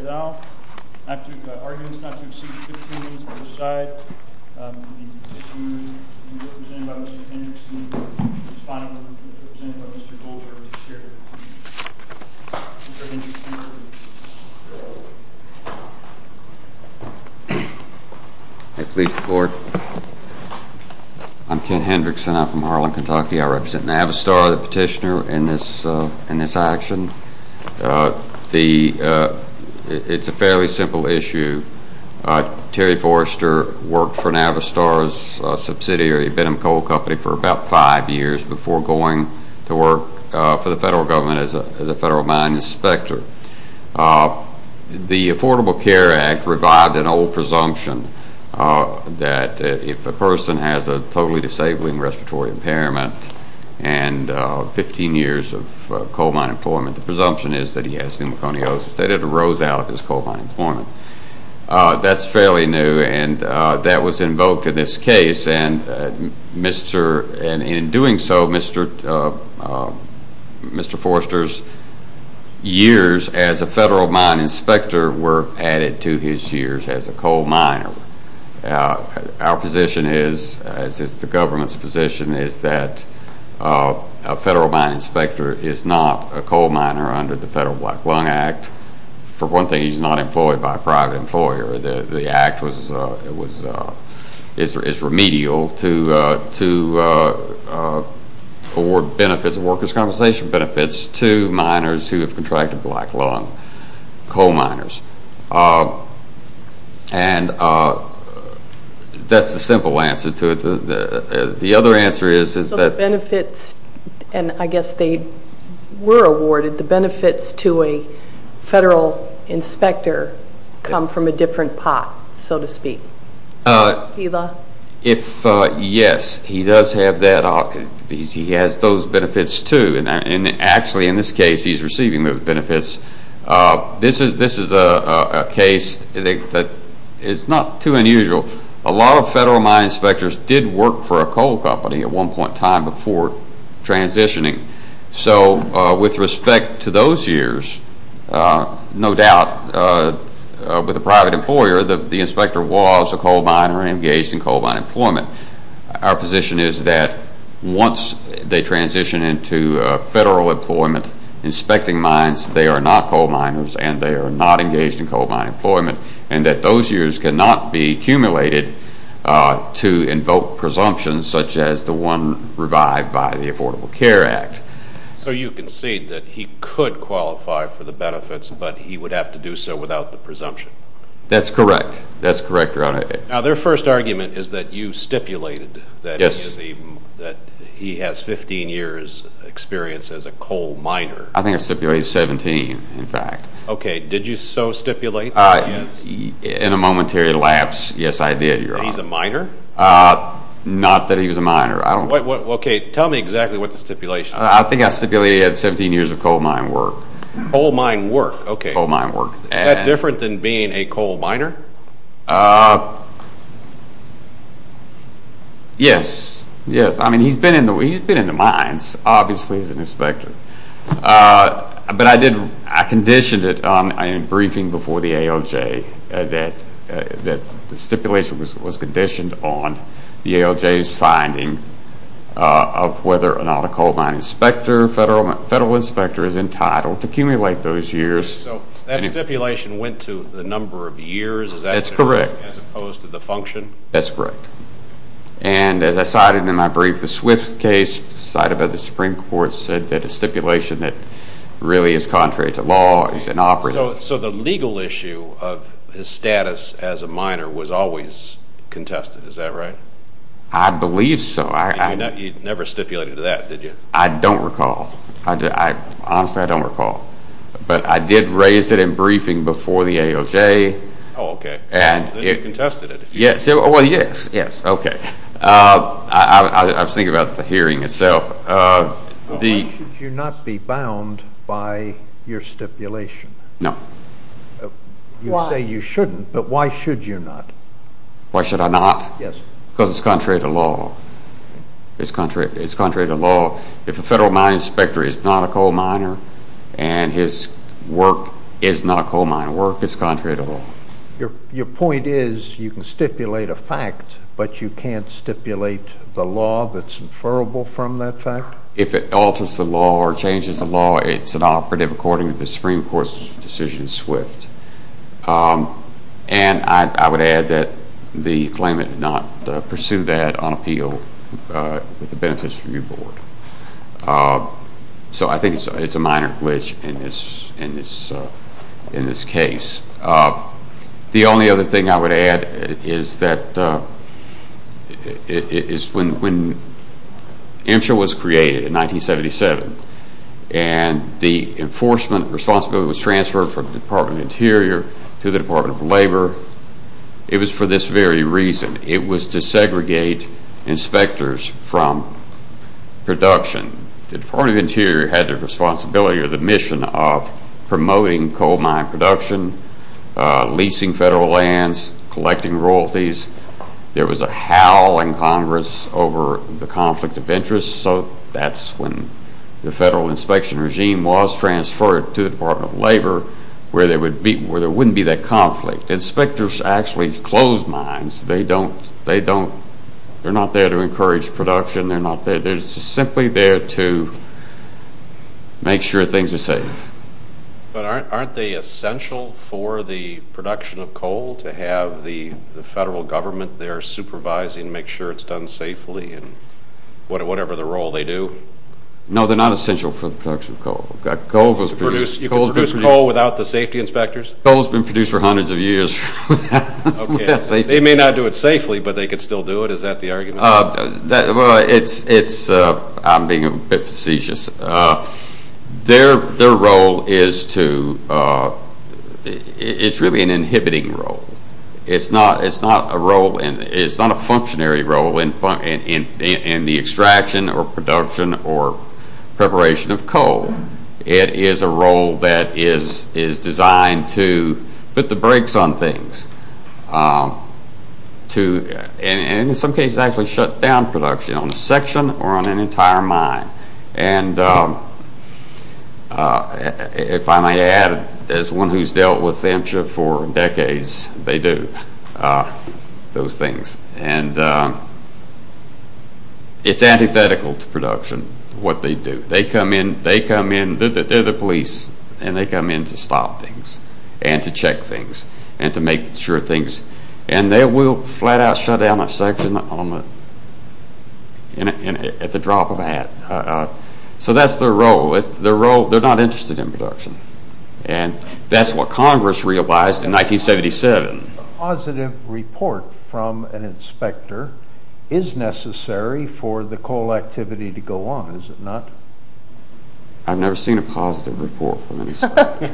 at all. I have two arguments not to exceed 15 minutes on each side. We need to dismiss the movement represented by Mr. Hendrickson, the final movement represented by Mr. Goldberg to share his views. Mr. Hendrickson, please. I please the court. I'm Ken Hendrickson. I'm from Harlan, Kentucky. I represent Navistar, the petitioner in this action. It's a fairly simple issue. Terry Forester worked for Navistar's subsidiary, Benham Coal Company, for about five years before going to work for the federal government as a federal mine inspector. The Affordable Care Act revived an old presumption that if a person has a totally disabling respiratory impairment and 15 years of coal mine employment, the presumption is that he has pneumoconiosis. They didn't rose out of his coal mine employment. That's fairly new and that was invoked in this case. In doing so, Mr. Forester's years as a federal mine inspector were added to his years as a coal miner. Our position is, as is the government's position, is that a federal mine inspector is not a coal For one thing, he's not employed by a private employer. The act is remedial to award benefits, workers' compensation benefits, to miners who have contracted black lung, coal miners. And that's the simple answer to it. The other answer is that the benefits, and I guess they were awarded, the benefits to a federal inspector come from a different pot, so to speak. Yes, he does have that. He has those benefits too. And actually, in this case, he's receiving those benefits. This is a case that is not too unusual. A lot of federal mine inspectors did work for a coal company at one point in time before transitioning. So with respect to those years, no doubt, with a private employer, the inspector was a coal miner and engaged in coal mine employment. Our position is that once they transition into federal employment, inspecting mines, they are not coal miners and they are not engaged in coal mine employment. And that those years cannot be accumulated to invoke presumptions such as the one revived by the Affordable Care Act. So you concede that he could qualify for the benefits, but he would have to do so without the presumption. That's correct. That's correct. Now, their first argument is that you stipulated that he has 15 years experience as a coal miner. I think I stipulated 17, in fact. Okay. Did you so stipulate? In a momentary lapse, yes, I did, Your Honor. That he's a miner? Not that he was a miner. Okay. Tell me exactly what the stipulation is. I think I stipulated he had 17 years of coal mine work. Coal mine work. Okay. Coal mine work. Is that different than being a coal miner? Yes. Yes. I mean, he's been in the mines, obviously, as an inspector. But I conditioned it in a briefing before the ALJ that the stipulation was conditioned on the ALJ's finding of whether a coal mine inspector, federal inspector, is entitled to accumulate those years. So that stipulation went to the number of years? That's correct. As opposed to the function? That's correct. And as I cited in my brief, the Swift case cited by the Supreme Court said that a stipulation that really is contrary to law is inoperative. So the legal issue of his status as a miner was always contested. Is that right? I believe so. You never stipulated that, did you? I don't recall. Honestly, I don't recall. But I did raise it in briefing before the ALJ. Oh, okay. And you contested it. Yes. Well, yes. Yes. Okay. I was thinking about the hearing itself. Why should you not be bound by your stipulation? No. You say you shouldn't, but why should you not? Why should I not? Yes. Because it's contrary to law. It's contrary to law. If a federal mine inspector is not a coal miner and his work is not coal mining work, it's contrary to law. Your point is you can stipulate a fact, but you can't stipulate the law that's inferrable from that fact? If it alters the law or changes the law, it's inoperative according to the Supreme Court's decision in Swift. And I would add that the claimant did not pursue that on appeal with the Benefits Review Board. So I think it's a minor glitch in this case. The only other thing I would add is that when MSHA was created in 1977 and the enforcement responsibility was transferred from the Department of Interior to the Department of Labor, it was for this very reason. It was to segregate inspectors from production. The Department of Interior had the responsibility or the mission of promoting coal mine production, leasing federal lands, collecting royalties. There was a howl in Congress over the conflict of interest. So that's when the federal inspection regime was transferred to the Department of Labor where there wouldn't be that conflict. Inspectors actually close mines. They're not there to encourage production. They're simply there to make sure things are safe. But aren't they essential for the production of coal to have the federal government there supervising, making sure it's done safely in whatever role they do? No, they're not essential for the production of coal. You can produce coal without the safety inspectors? Coal has been produced for hundreds of years. They may not do it safely, but they can still do it. Is that the argument? I'm being a bit facetious. Their role is really an inhibiting role. It's not a functionary role in the extraction or production or preparation of coal. It is a role that is designed to put the brakes on things. And in some cases actually shut down production on a section or on an entire mine. And if I may add, as one who's dealt with them for decades, they do those things. And it's antithetical to production, what they do. They come in. They're the police. And they come in to stop things and to check things and to make sure things... And they will flat out shut down a section at the drop of a hat. So that's their role. They're not interested in production. And that's what Congress realized in 1977. A positive report from an inspector is necessary for the coal activity to go on, is it not? I've never seen a positive report from an inspector.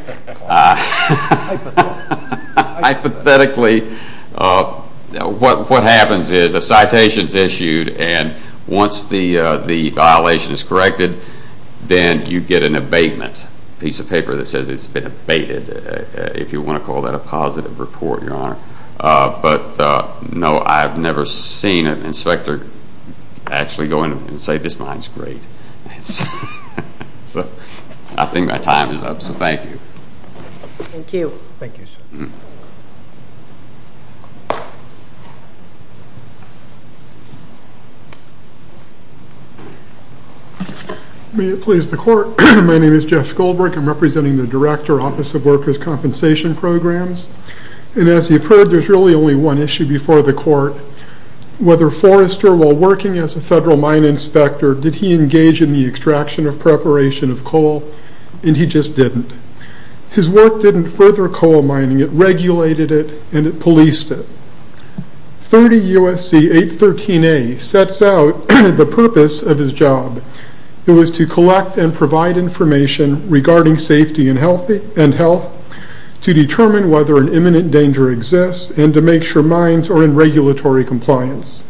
Hypothetically, what happens is a citation is issued. And once the violation is corrected, then you get an abatement. A piece of paper that says it's been abated, if you want to call that a positive report, Your Honor. But no, I've never seen an inspector actually go in and say this mine is great. So I think my time is up, so thank you. Thank you. Thank you, sir. May it please the Court. My name is Jeff Goldberg. I'm representing the Director, Office of Workers' Compensation Programs. And as you've heard, there's really only one issue before the Court. Whether Forrester, while working as a federal mine inspector, did he engage in the extraction of preparation of coal? And he just didn't. His work didn't further coal mining. It regulated it, and it policed it. 30 U.S.C. 813A sets out the purpose of his job. It was to collect and provide information regarding safety and health, to determine whether an imminent danger exists, and to make sure mines are in regulatory compliance.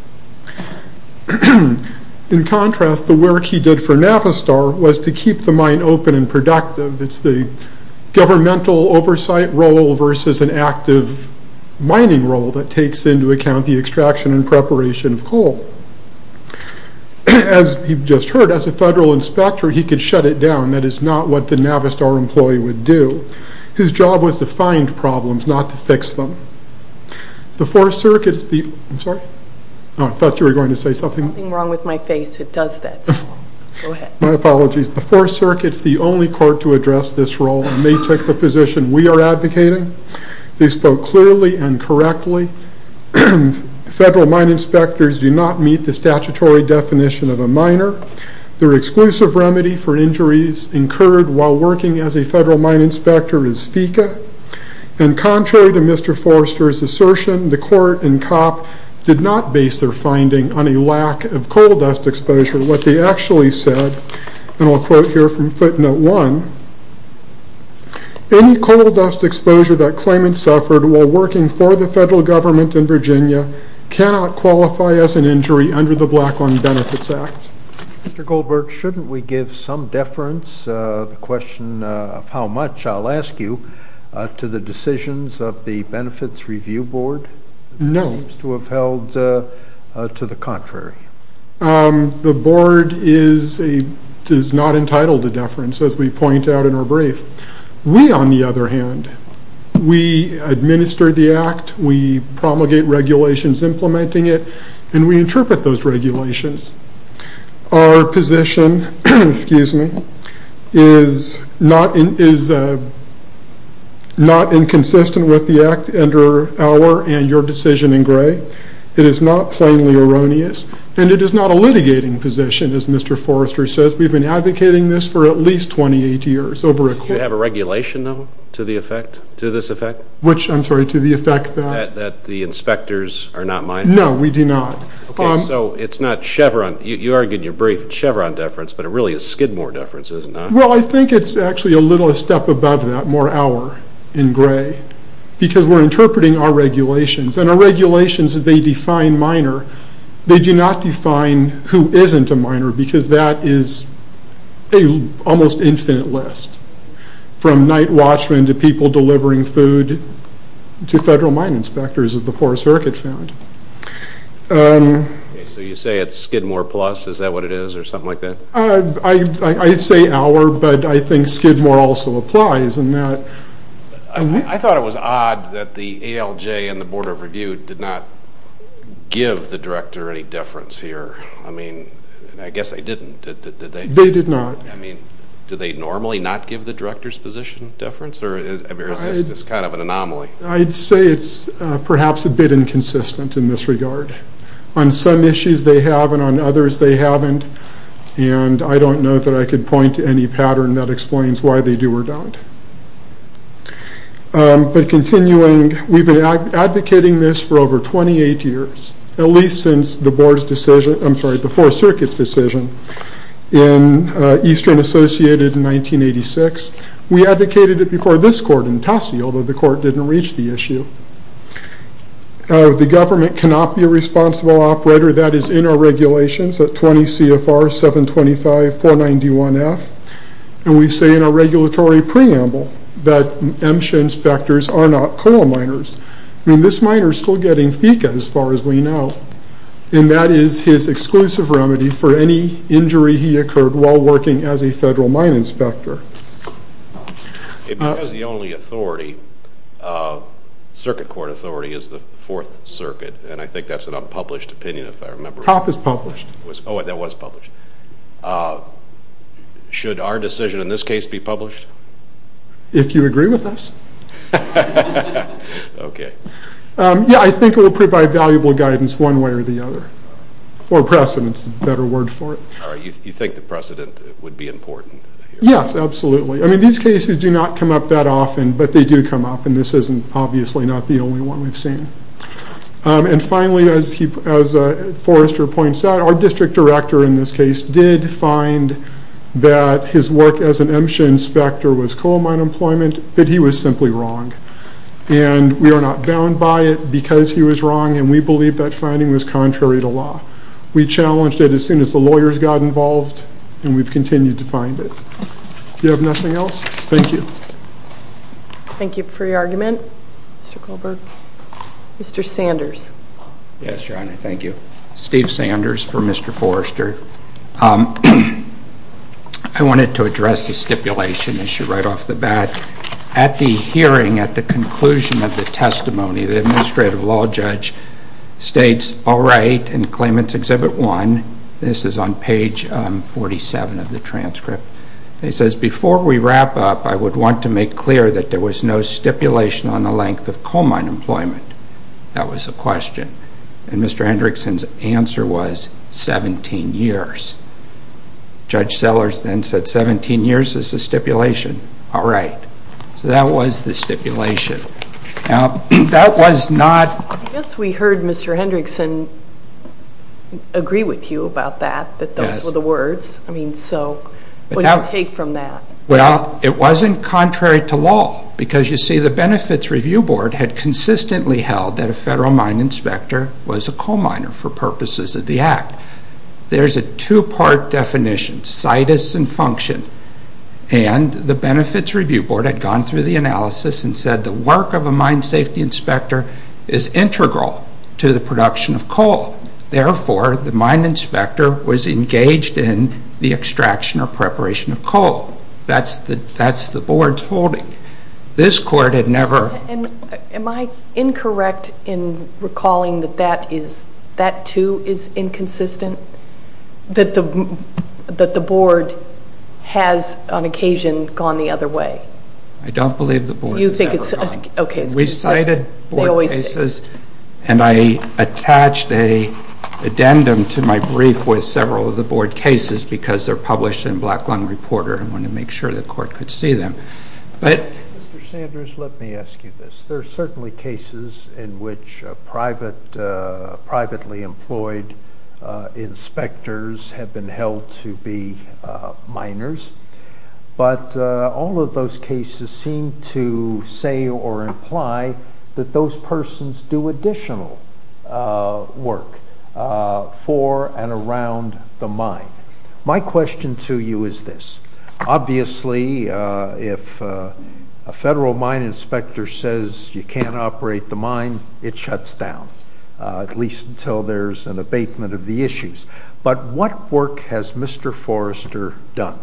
In contrast, the work he did for Navistar was to keep the mine open and productive. It's the governmental oversight role versus an active mining role that takes into account the extraction and preparation of coal. As you've just heard, as a federal inspector, he could shut it down. That is not what the Navistar employee would do. His job was to find problems, not to fix them. The Fourth Circuit is the only court to address this role, and they took the position we are advocating. They spoke clearly and correctly. Federal mine inspectors do not meet the statutory definition of a miner. Their exclusive remedy for injuries incurred while working as a federal mine inspector is FICA. And contrary to Mr. Forrester's assertion, the court and cop did not base their finding on a lack of coal dust exposure. What they actually said, and I'll quote here from footnote one, Any coal dust exposure that claimants suffered while working for the federal government in Virginia cannot qualify as an injury under the Black Line Benefits Act. Mr. Goldberg, shouldn't we give some deference, the question of how much, I'll ask you, to the decisions of the Benefits Review Board? No. That seems to have held to the contrary. The board is not entitled to deference, as we point out in our brief. We, on the other hand, we administer the act, we promulgate regulations implementing it, and we interpret those regulations. Our position is not inconsistent with the act under our and your decision in Gray. It is not plainly erroneous, and it is not a litigating position, as Mr. Forrester says. We've been advocating this for at least 28 years. Do you have a regulation, though, to the effect, to this effect? Which, I'm sorry, to the effect that? That the inspectors are not miners? No, we do not. Okay, so it's not Chevron. You argue in your brief Chevron deference, but it really is Skidmore deference, isn't it? Well, I think it's actually a little step above that, more our in Gray, because we're interpreting our regulations. And our regulations, as they define miner, they do not define who isn't a miner, because that is an almost infinite list, from night watchmen to people delivering food to federal mine inspectors, as the Forest Circuit found. Okay, so you say it's Skidmore Plus. Is that what it is, or something like that? I say our, but I think Skidmore also applies in that. I thought it was odd that the ALJ and the Board of Review did not give the director any deference here. I mean, I guess they didn't, did they? They did not. I mean, do they normally not give the director's position deference, or is this just kind of an anomaly? I'd say it's perhaps a bit inconsistent in this regard. On some issues they have, and on others they haven't. And I don't know that I could point to any pattern that explains why they do or don't. But continuing, we've been advocating this for over 28 years, at least since the board's decision, I'm sorry, the Forest Circuit's decision in Eastern Associated in 1986. We advocated it before this court in Tassie, although the court didn't reach the issue. The government cannot be a responsible operator. That is in our regulations at 20 CFR 725-491F. And we say in our regulatory preamble that MSHA inspectors are not coal miners. I mean, this miner's still getting FECA, as far as we know. And that is his exclusive remedy for any injury he occurred while working as a federal mine inspector. If he was the only authority, circuit court authority is the Fourth Circuit, and I think that's an unpublished opinion, if I remember right. POP is published. Oh, that was published. Should our decision in this case be published? If you agree with us. Okay. Yeah, I think it will provide valuable guidance one way or the other. Or precedent is a better word for it. You think the precedent would be important? Yes, absolutely. I mean, these cases do not come up that often, but they do come up, and this isn't obviously not the only one we've seen. And finally, as Forrester points out, our district director in this case did find that his work as an MSHA inspector was coal mine employment, but he was simply wrong. And we are not bound by it because he was wrong, and we believe that finding was contrary to law. We challenged it as soon as the lawyers got involved, and we've continued to find it. Do you have nothing else? Thank you. Thank you for your argument, Mr. Goldberg. Mr. Sanders. Yes, Your Honor. Thank you. Steve Sanders for Mr. Forrester. I wanted to address the stipulation issue right off the bat. At the hearing, at the conclusion of the testimony, the administrative law judge states, all right, in Claimants Exhibit 1, this is on page 47 of the transcript, he says, before we wrap up, I would want to make clear that there was no stipulation on the length of coal mine employment. That was the question. And Mr. Hendrickson's answer was 17 years. Judge Sellers then said 17 years is the stipulation. All right. So that was the stipulation. Now, that was not... I guess we heard Mr. Hendrickson agree with you about that, that those were the words. Yes. I mean, so what do you take from that? Well, it wasn't contrary to law because, you see, the Benefits Review Board had consistently held that a federal mine inspector was a coal miner for purposes of the Act. There's a two-part definition, situs and function, and the Benefits Review Board had gone through the analysis and said the work of a mine safety inspector is integral to the production of coal. Therefore, the mine inspector was engaged in the extraction or preparation of coal. That's the board's holding. This court had never... Am I incorrect in recalling that that, too, is inconsistent? That the board has, on occasion, gone the other way? I don't believe the board has ever gone... You think it's... Okay. We cited board cases, and I attached an addendum to my brief with several of the board cases because they're published in Black Lung Reporter. I wanted to make sure the court could see them. But... Mr. Sanders, let me ask you this. There are certainly cases in which privately employed inspectors have been held to be miners, but all of those cases seem to say or imply that those persons do additional work for and around the mine. My question to you is this. Obviously, if a federal mine inspector says you can't operate the mine, it shuts down, at least until there's an abatement of the issues. But what work has Mr. Forrester done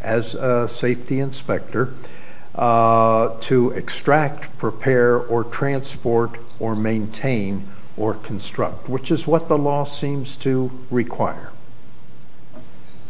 as a safety inspector to extract, prepare, or transport, or maintain, or construct, which is what the law seems to require?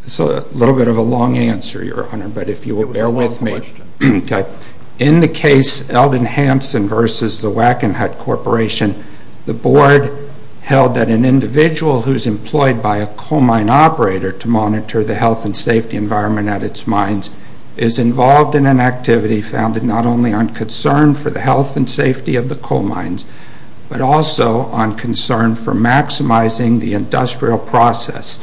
It's a little bit of a long answer, Your Honor, but if you will bear with me... It was a long question. Okay. In the case Eldon Hansen v. The Wackenhut Corporation, the board held that an individual who's employed by a coal mine operator to monitor the health and safety environment at its mines is involved in an activity founded not only on concern for the health and safety of the coal mines, but also on concern for maximizing the industrial process.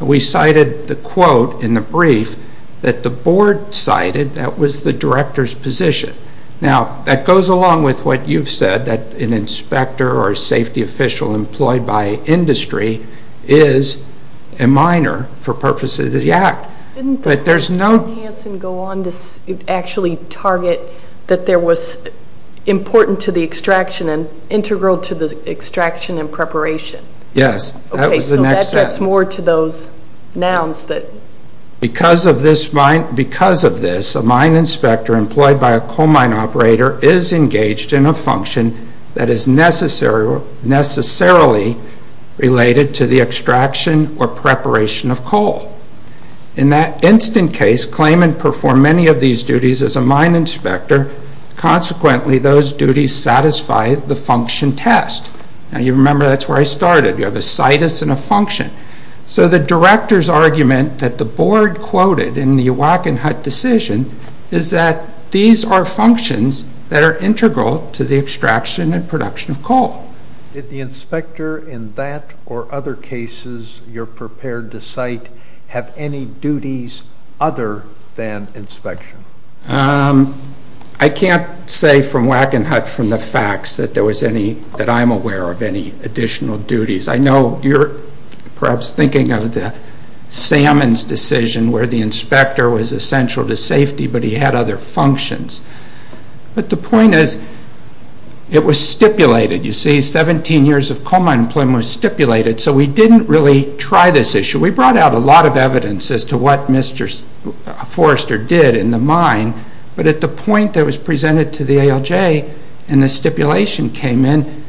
We cited the quote in the brief that the board cited that was the director's position. Now, that goes along with what you've said, that an inspector or a safety official employed by industry is a miner for purposes of the act. Didn't Mr. Hansen go on to actually target that there was important to the extraction and integral to the extraction and preparation? Yes, that was the next sentence. Okay, so that gets more to those nouns that... Because of this, a mine inspector employed by a coal mine operator is engaged in a function that is necessarily related to the extraction or preparation of coal. In that instant case, claimant performed many of these duties as a mine inspector. Consequently, those duties satisfy the function test. Now, you remember that's where I started. You have a situs and a function. So the director's argument that the board quoted in the Wackenhut decision is that these are functions that are integral to the extraction and production of coal. Did the inspector in that or other cases you're prepared to cite have any duties other than inspection? I can't say from Wackenhut from the facts that I'm aware of any additional duties. I know you're perhaps thinking of the Sammons decision where the inspector was essential to safety, but he had other functions. But the point is, it was stipulated. You see, 17 years of coal mine employment was stipulated, so we didn't really try this issue. We brought out a lot of evidence as to what Mr. Forrester did in the mine, but at the point that it was presented to the ALJ and the stipulation came in,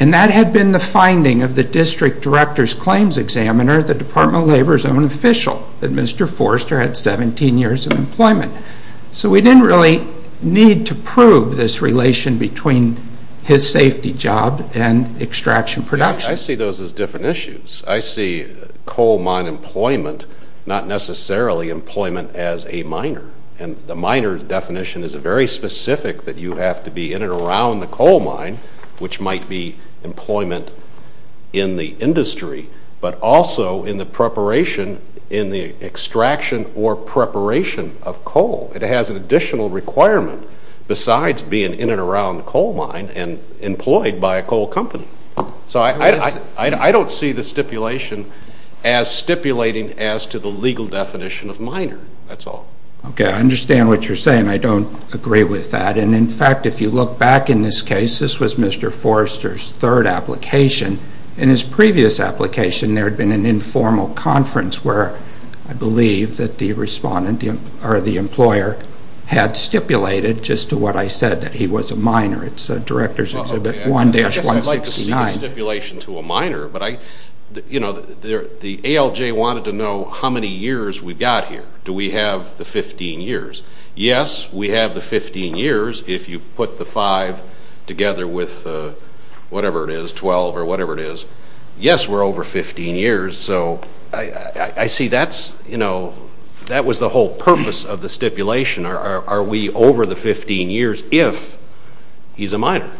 and that had been the finding of the district director's claims examiner, the Department of Labor's own official, that Mr. Forrester had 17 years of employment. So we didn't really need to prove this relation between his safety job and extraction production. I see those as different issues. I see coal mine employment not necessarily employment as a miner, and the miner's definition is very specific that you have to be in and around the coal mine, which might be employment in the industry, but also in the preparation, in the extraction or preparation of coal. It has an additional requirement besides being in and around the coal mine and employed by a coal company. So I don't see the stipulation as stipulating as to the legal definition of miner. That's all. Okay, I understand what you're saying. I don't agree with that. And, in fact, if you look back in this case, this was Mr. Forrester's third application. In his previous application, there had been an informal conference where I believe that the employer had stipulated, just to what I said, that he was a miner. It's Director's Exhibit 1-169. I guess I'd like to see the stipulation to a miner, but the ALJ wanted to know how many years we've got here. Do we have the 15 years? Yes, we have the 15 years. If you put the 5 together with whatever it is, 12 or whatever it is, yes, we're over 15 years. So I see that was the whole purpose of the stipulation. Are we over the 15 years if he's a miner?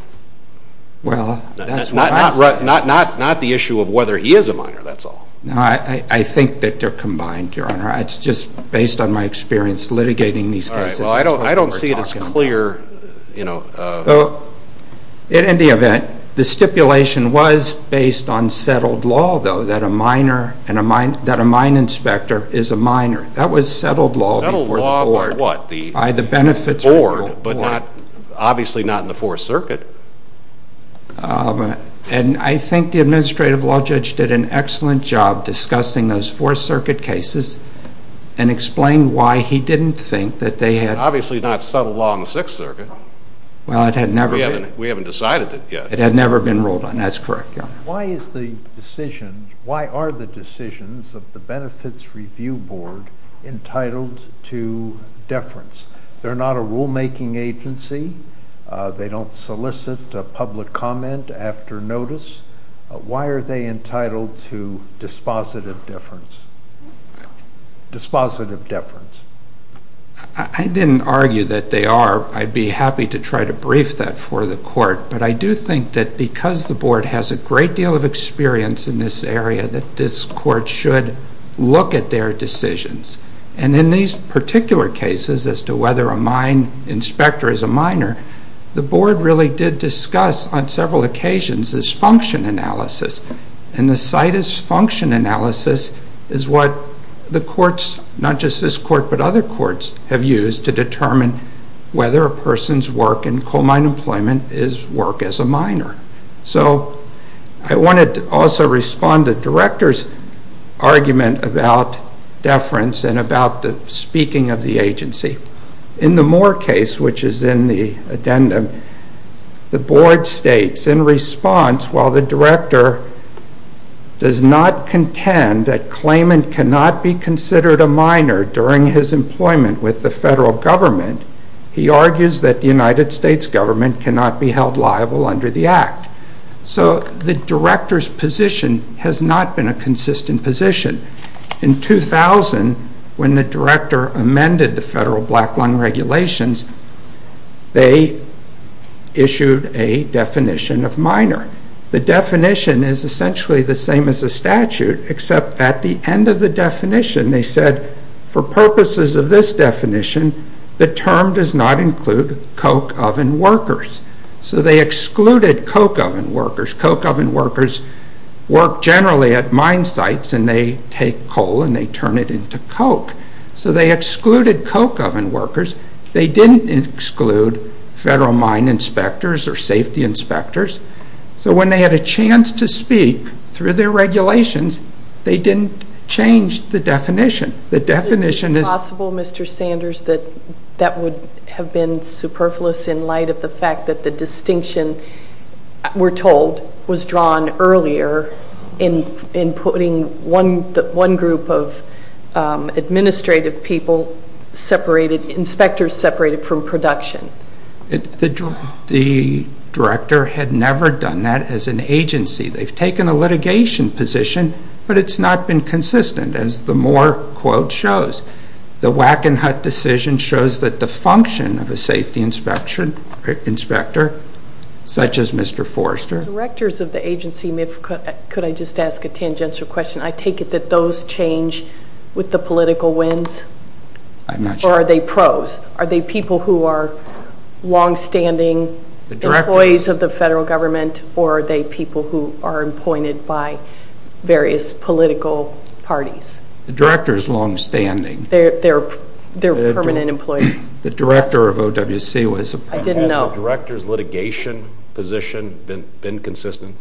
Well, that's what I said. Not the issue of whether he is a miner. That's all. No, I think that they're combined, Your Honor. It's just based on my experience litigating these cases. All right. Well, I don't see it as clear. In any event, the stipulation was based on settled law, though, that a mine inspector is a miner. That was settled law before the board. Settled law by what? By the benefits report. The board, but obviously not in the Fourth Circuit. And I think the administrative law judge did an excellent job discussing those Fourth Circuit cases and explained why he didn't think that they had. Obviously not settled law in the Sixth Circuit. Well, it had never been. We haven't decided it yet. It had never been ruled on. That's correct, Your Honor. Why are the decisions of the Benefits Review Board entitled to deference? They're not a rulemaking agency. They don't solicit public comment after notice. Why are they entitled to dispositive deference? Dispositive deference. I didn't argue that they are. I'd be happy to try to brief that for the court. But I do think that because the board has a great deal of experience in this area, that this court should look at their decisions. And in these particular cases as to whether an inspector is a miner, the board really did discuss on several occasions this function analysis. And the CITES function analysis is what the courts, not just this court but other courts, have used to determine whether a person's work in coal mine employment is work as a miner. So I wanted to also respond to the Director's argument about deference and about the speaking of the agency. In the Moore case, which is in the addendum, the board states in response, while the Director does not contend that claimant cannot be considered a miner during his employment with the federal government, he argues that the United States government cannot be held liable under the Act. So the Director's position has not been a consistent position. In 2000, when the Director amended the federal black lung regulations, they issued a definition of miner. The definition is essentially the same as the statute, except at the end of the definition they said, for purposes of this definition, the term does not include coke oven workers. So they excluded coke oven workers. Coke oven workers work generally at mine sites and they take coal and they turn it into coke. So they excluded coke oven workers. They didn't exclude federal mine inspectors or safety inspectors. So when they had a chance to speak through their regulations, they didn't change the definition. Is it possible, Mr. Sanders, that that would have been superfluous in light of the fact that the distinction, we're told, was drawn earlier in putting one group of administrative people separated, inspectors separated from production? The Director had never done that as an agency. They've taken a litigation position, but it's not been consistent, as the Moore quote shows. The Wackenhut decision shows that the function of a safety inspector, such as Mr. Forrester. Directors of the agency, could I just ask a tangential question? I take it that those change with the political winds? I'm not sure. Or are they pros? Are they people who are longstanding employees of the federal government or are they people who are appointed by various political parties? The Director is longstanding. They're permanent employees. The Director of OWC was a permanent employee. Has the Director's litigation position been consistent?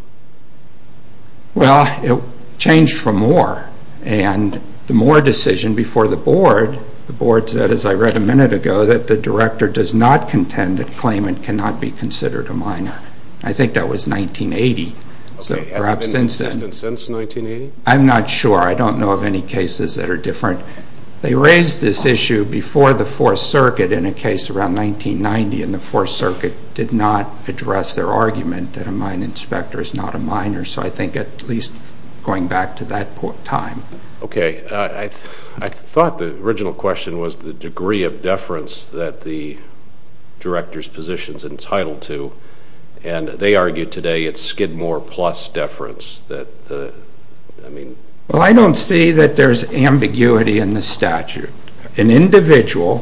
Well, it changed from Moore, and the Moore decision before the Board, the Board said, as I read a minute ago, that the Director does not contend that claimant cannot be considered a minor. I think that was 1980. Has it been consistent since 1980? I'm not sure. I don't know of any cases that are different. They raised this issue before the Fourth Circuit in a case around 1990, and the Fourth Circuit did not address their argument that a mine inspector is not a minor, so I think at least going back to that time. Okay. I thought the original question was the degree of deference that the Director's position is entitled to, and they argue today it's Skidmore plus deference. Well, I don't see that there's ambiguity in the statute. An individual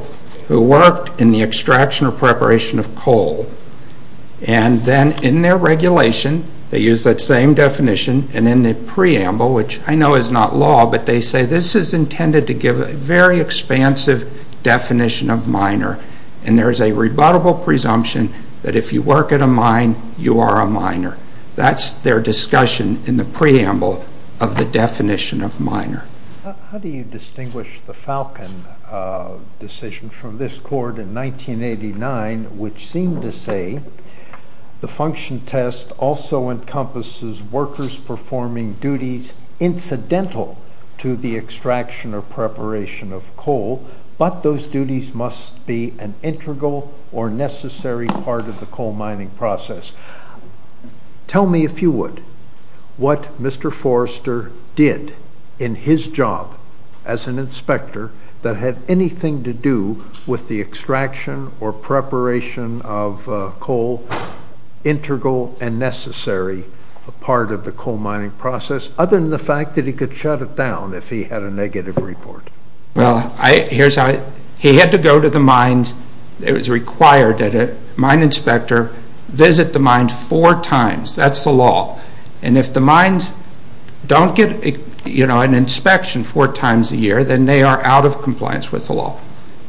who worked in the extraction or preparation of coal, and then in their regulation they use that same definition, and in the preamble, which I know is not law, but they say this is intended to give a very expansive definition of minor, and there is a rebuttable presumption that if you work at a mine, you are a minor. That's their discussion in the preamble of the definition of minor. How do you distinguish the Falcon decision from this court in 1989, which seemed to say the function test also encompasses workers performing duties incidental to the extraction or preparation of coal, but those duties must be an integral or necessary part of the coal mining process? Tell me, if you would, what Mr. Forrester did in his job as an inspector that had anything to do with the extraction or preparation of coal, integral and necessary part of the coal mining process, other than the fact that he could shut it down if he had a negative report. Well, he had to go to the mines. It was required that a mine inspector visit the mines four times. That's the law. And if the mines don't get an inspection four times a year, then they are out of compliance with the law.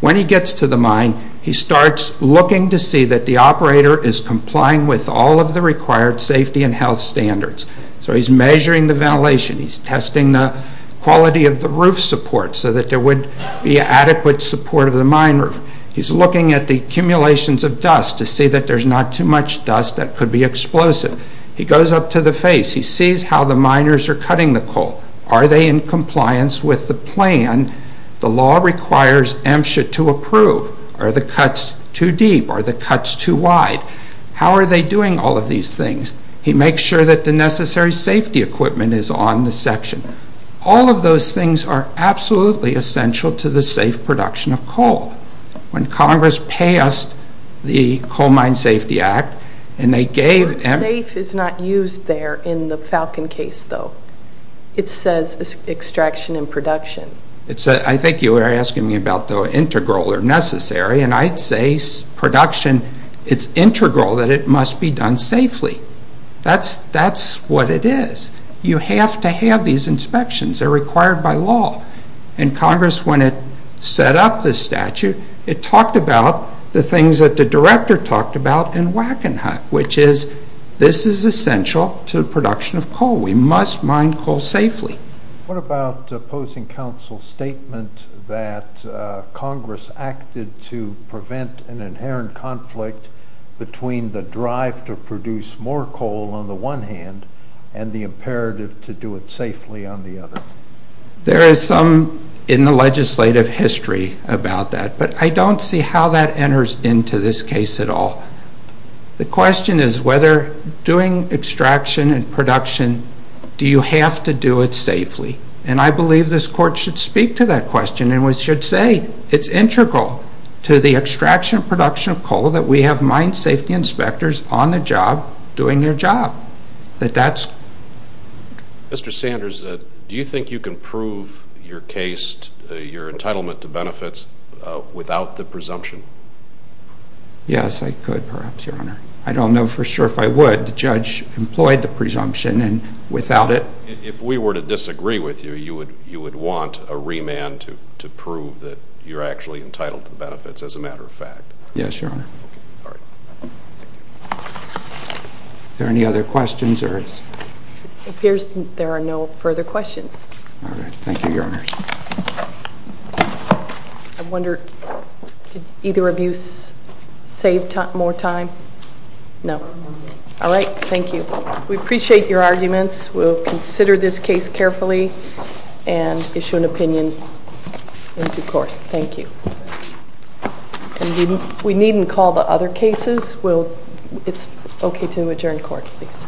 When he gets to the mine, he starts looking to see that the operator is complying with all of the required safety and health standards. So he's measuring the ventilation. He's testing the quality of the roof support so that there would be adequate support of the mine roof. He's looking at the accumulations of dust to see that there's not too much dust that could be explosive. He goes up to the face. He sees how the miners are cutting the coal. Are they in compliance with the plan? The law requires MSHA to approve. Are the cuts too deep? Are the cuts too wide? How are they doing all of these things? He makes sure that the necessary safety equipment is on the section. All of those things are absolutely essential to the safe production of coal. When Congress passed the Coal Mine Safety Act, and they gave... The word safe is not used there in the Falcon case, though. It says extraction and production. I think you were asking me about the integral or necessary, and I'd say production, it's integral that it must be done safely. That's what it is. You have to have these inspections. They're required by law. Congress, when it set up this statute, it talked about the things that the director talked about in Wackenhut, which is this is essential to the production of coal. We must mine coal safely. What about opposing counsel's statement that Congress acted to prevent an inherent conflict between the drive to produce more coal on the one hand and the imperative to do it safely on the other? There is some in the legislative history about that, but I don't see how that enters into this case at all. The question is whether doing extraction and production, do you have to do it safely? I believe this Court should speak to that question, and we should say it's integral to the extraction and production of coal that we have mine safety inspectors on the job doing their job. But that's... Mr. Sanders, do you think you can prove your case, your entitlement to benefits, without the presumption? Yes, I could perhaps, Your Honor. I don't know for sure if I would. The judge employed the presumption, and without it... If we were to disagree with you, you would want a remand to prove that you're actually entitled to benefits as a matter of fact. Yes, Your Honor. Are there any other questions? It appears there are no further questions. All right. Thank you, Your Honor. I wonder, did either of you save more time? No. All right. Thank you. We appreciate your arguments. We'll consider this case carefully and issue an opinion in due course. Thank you. We needn't call the other cases. It's okay to adjourn court, please.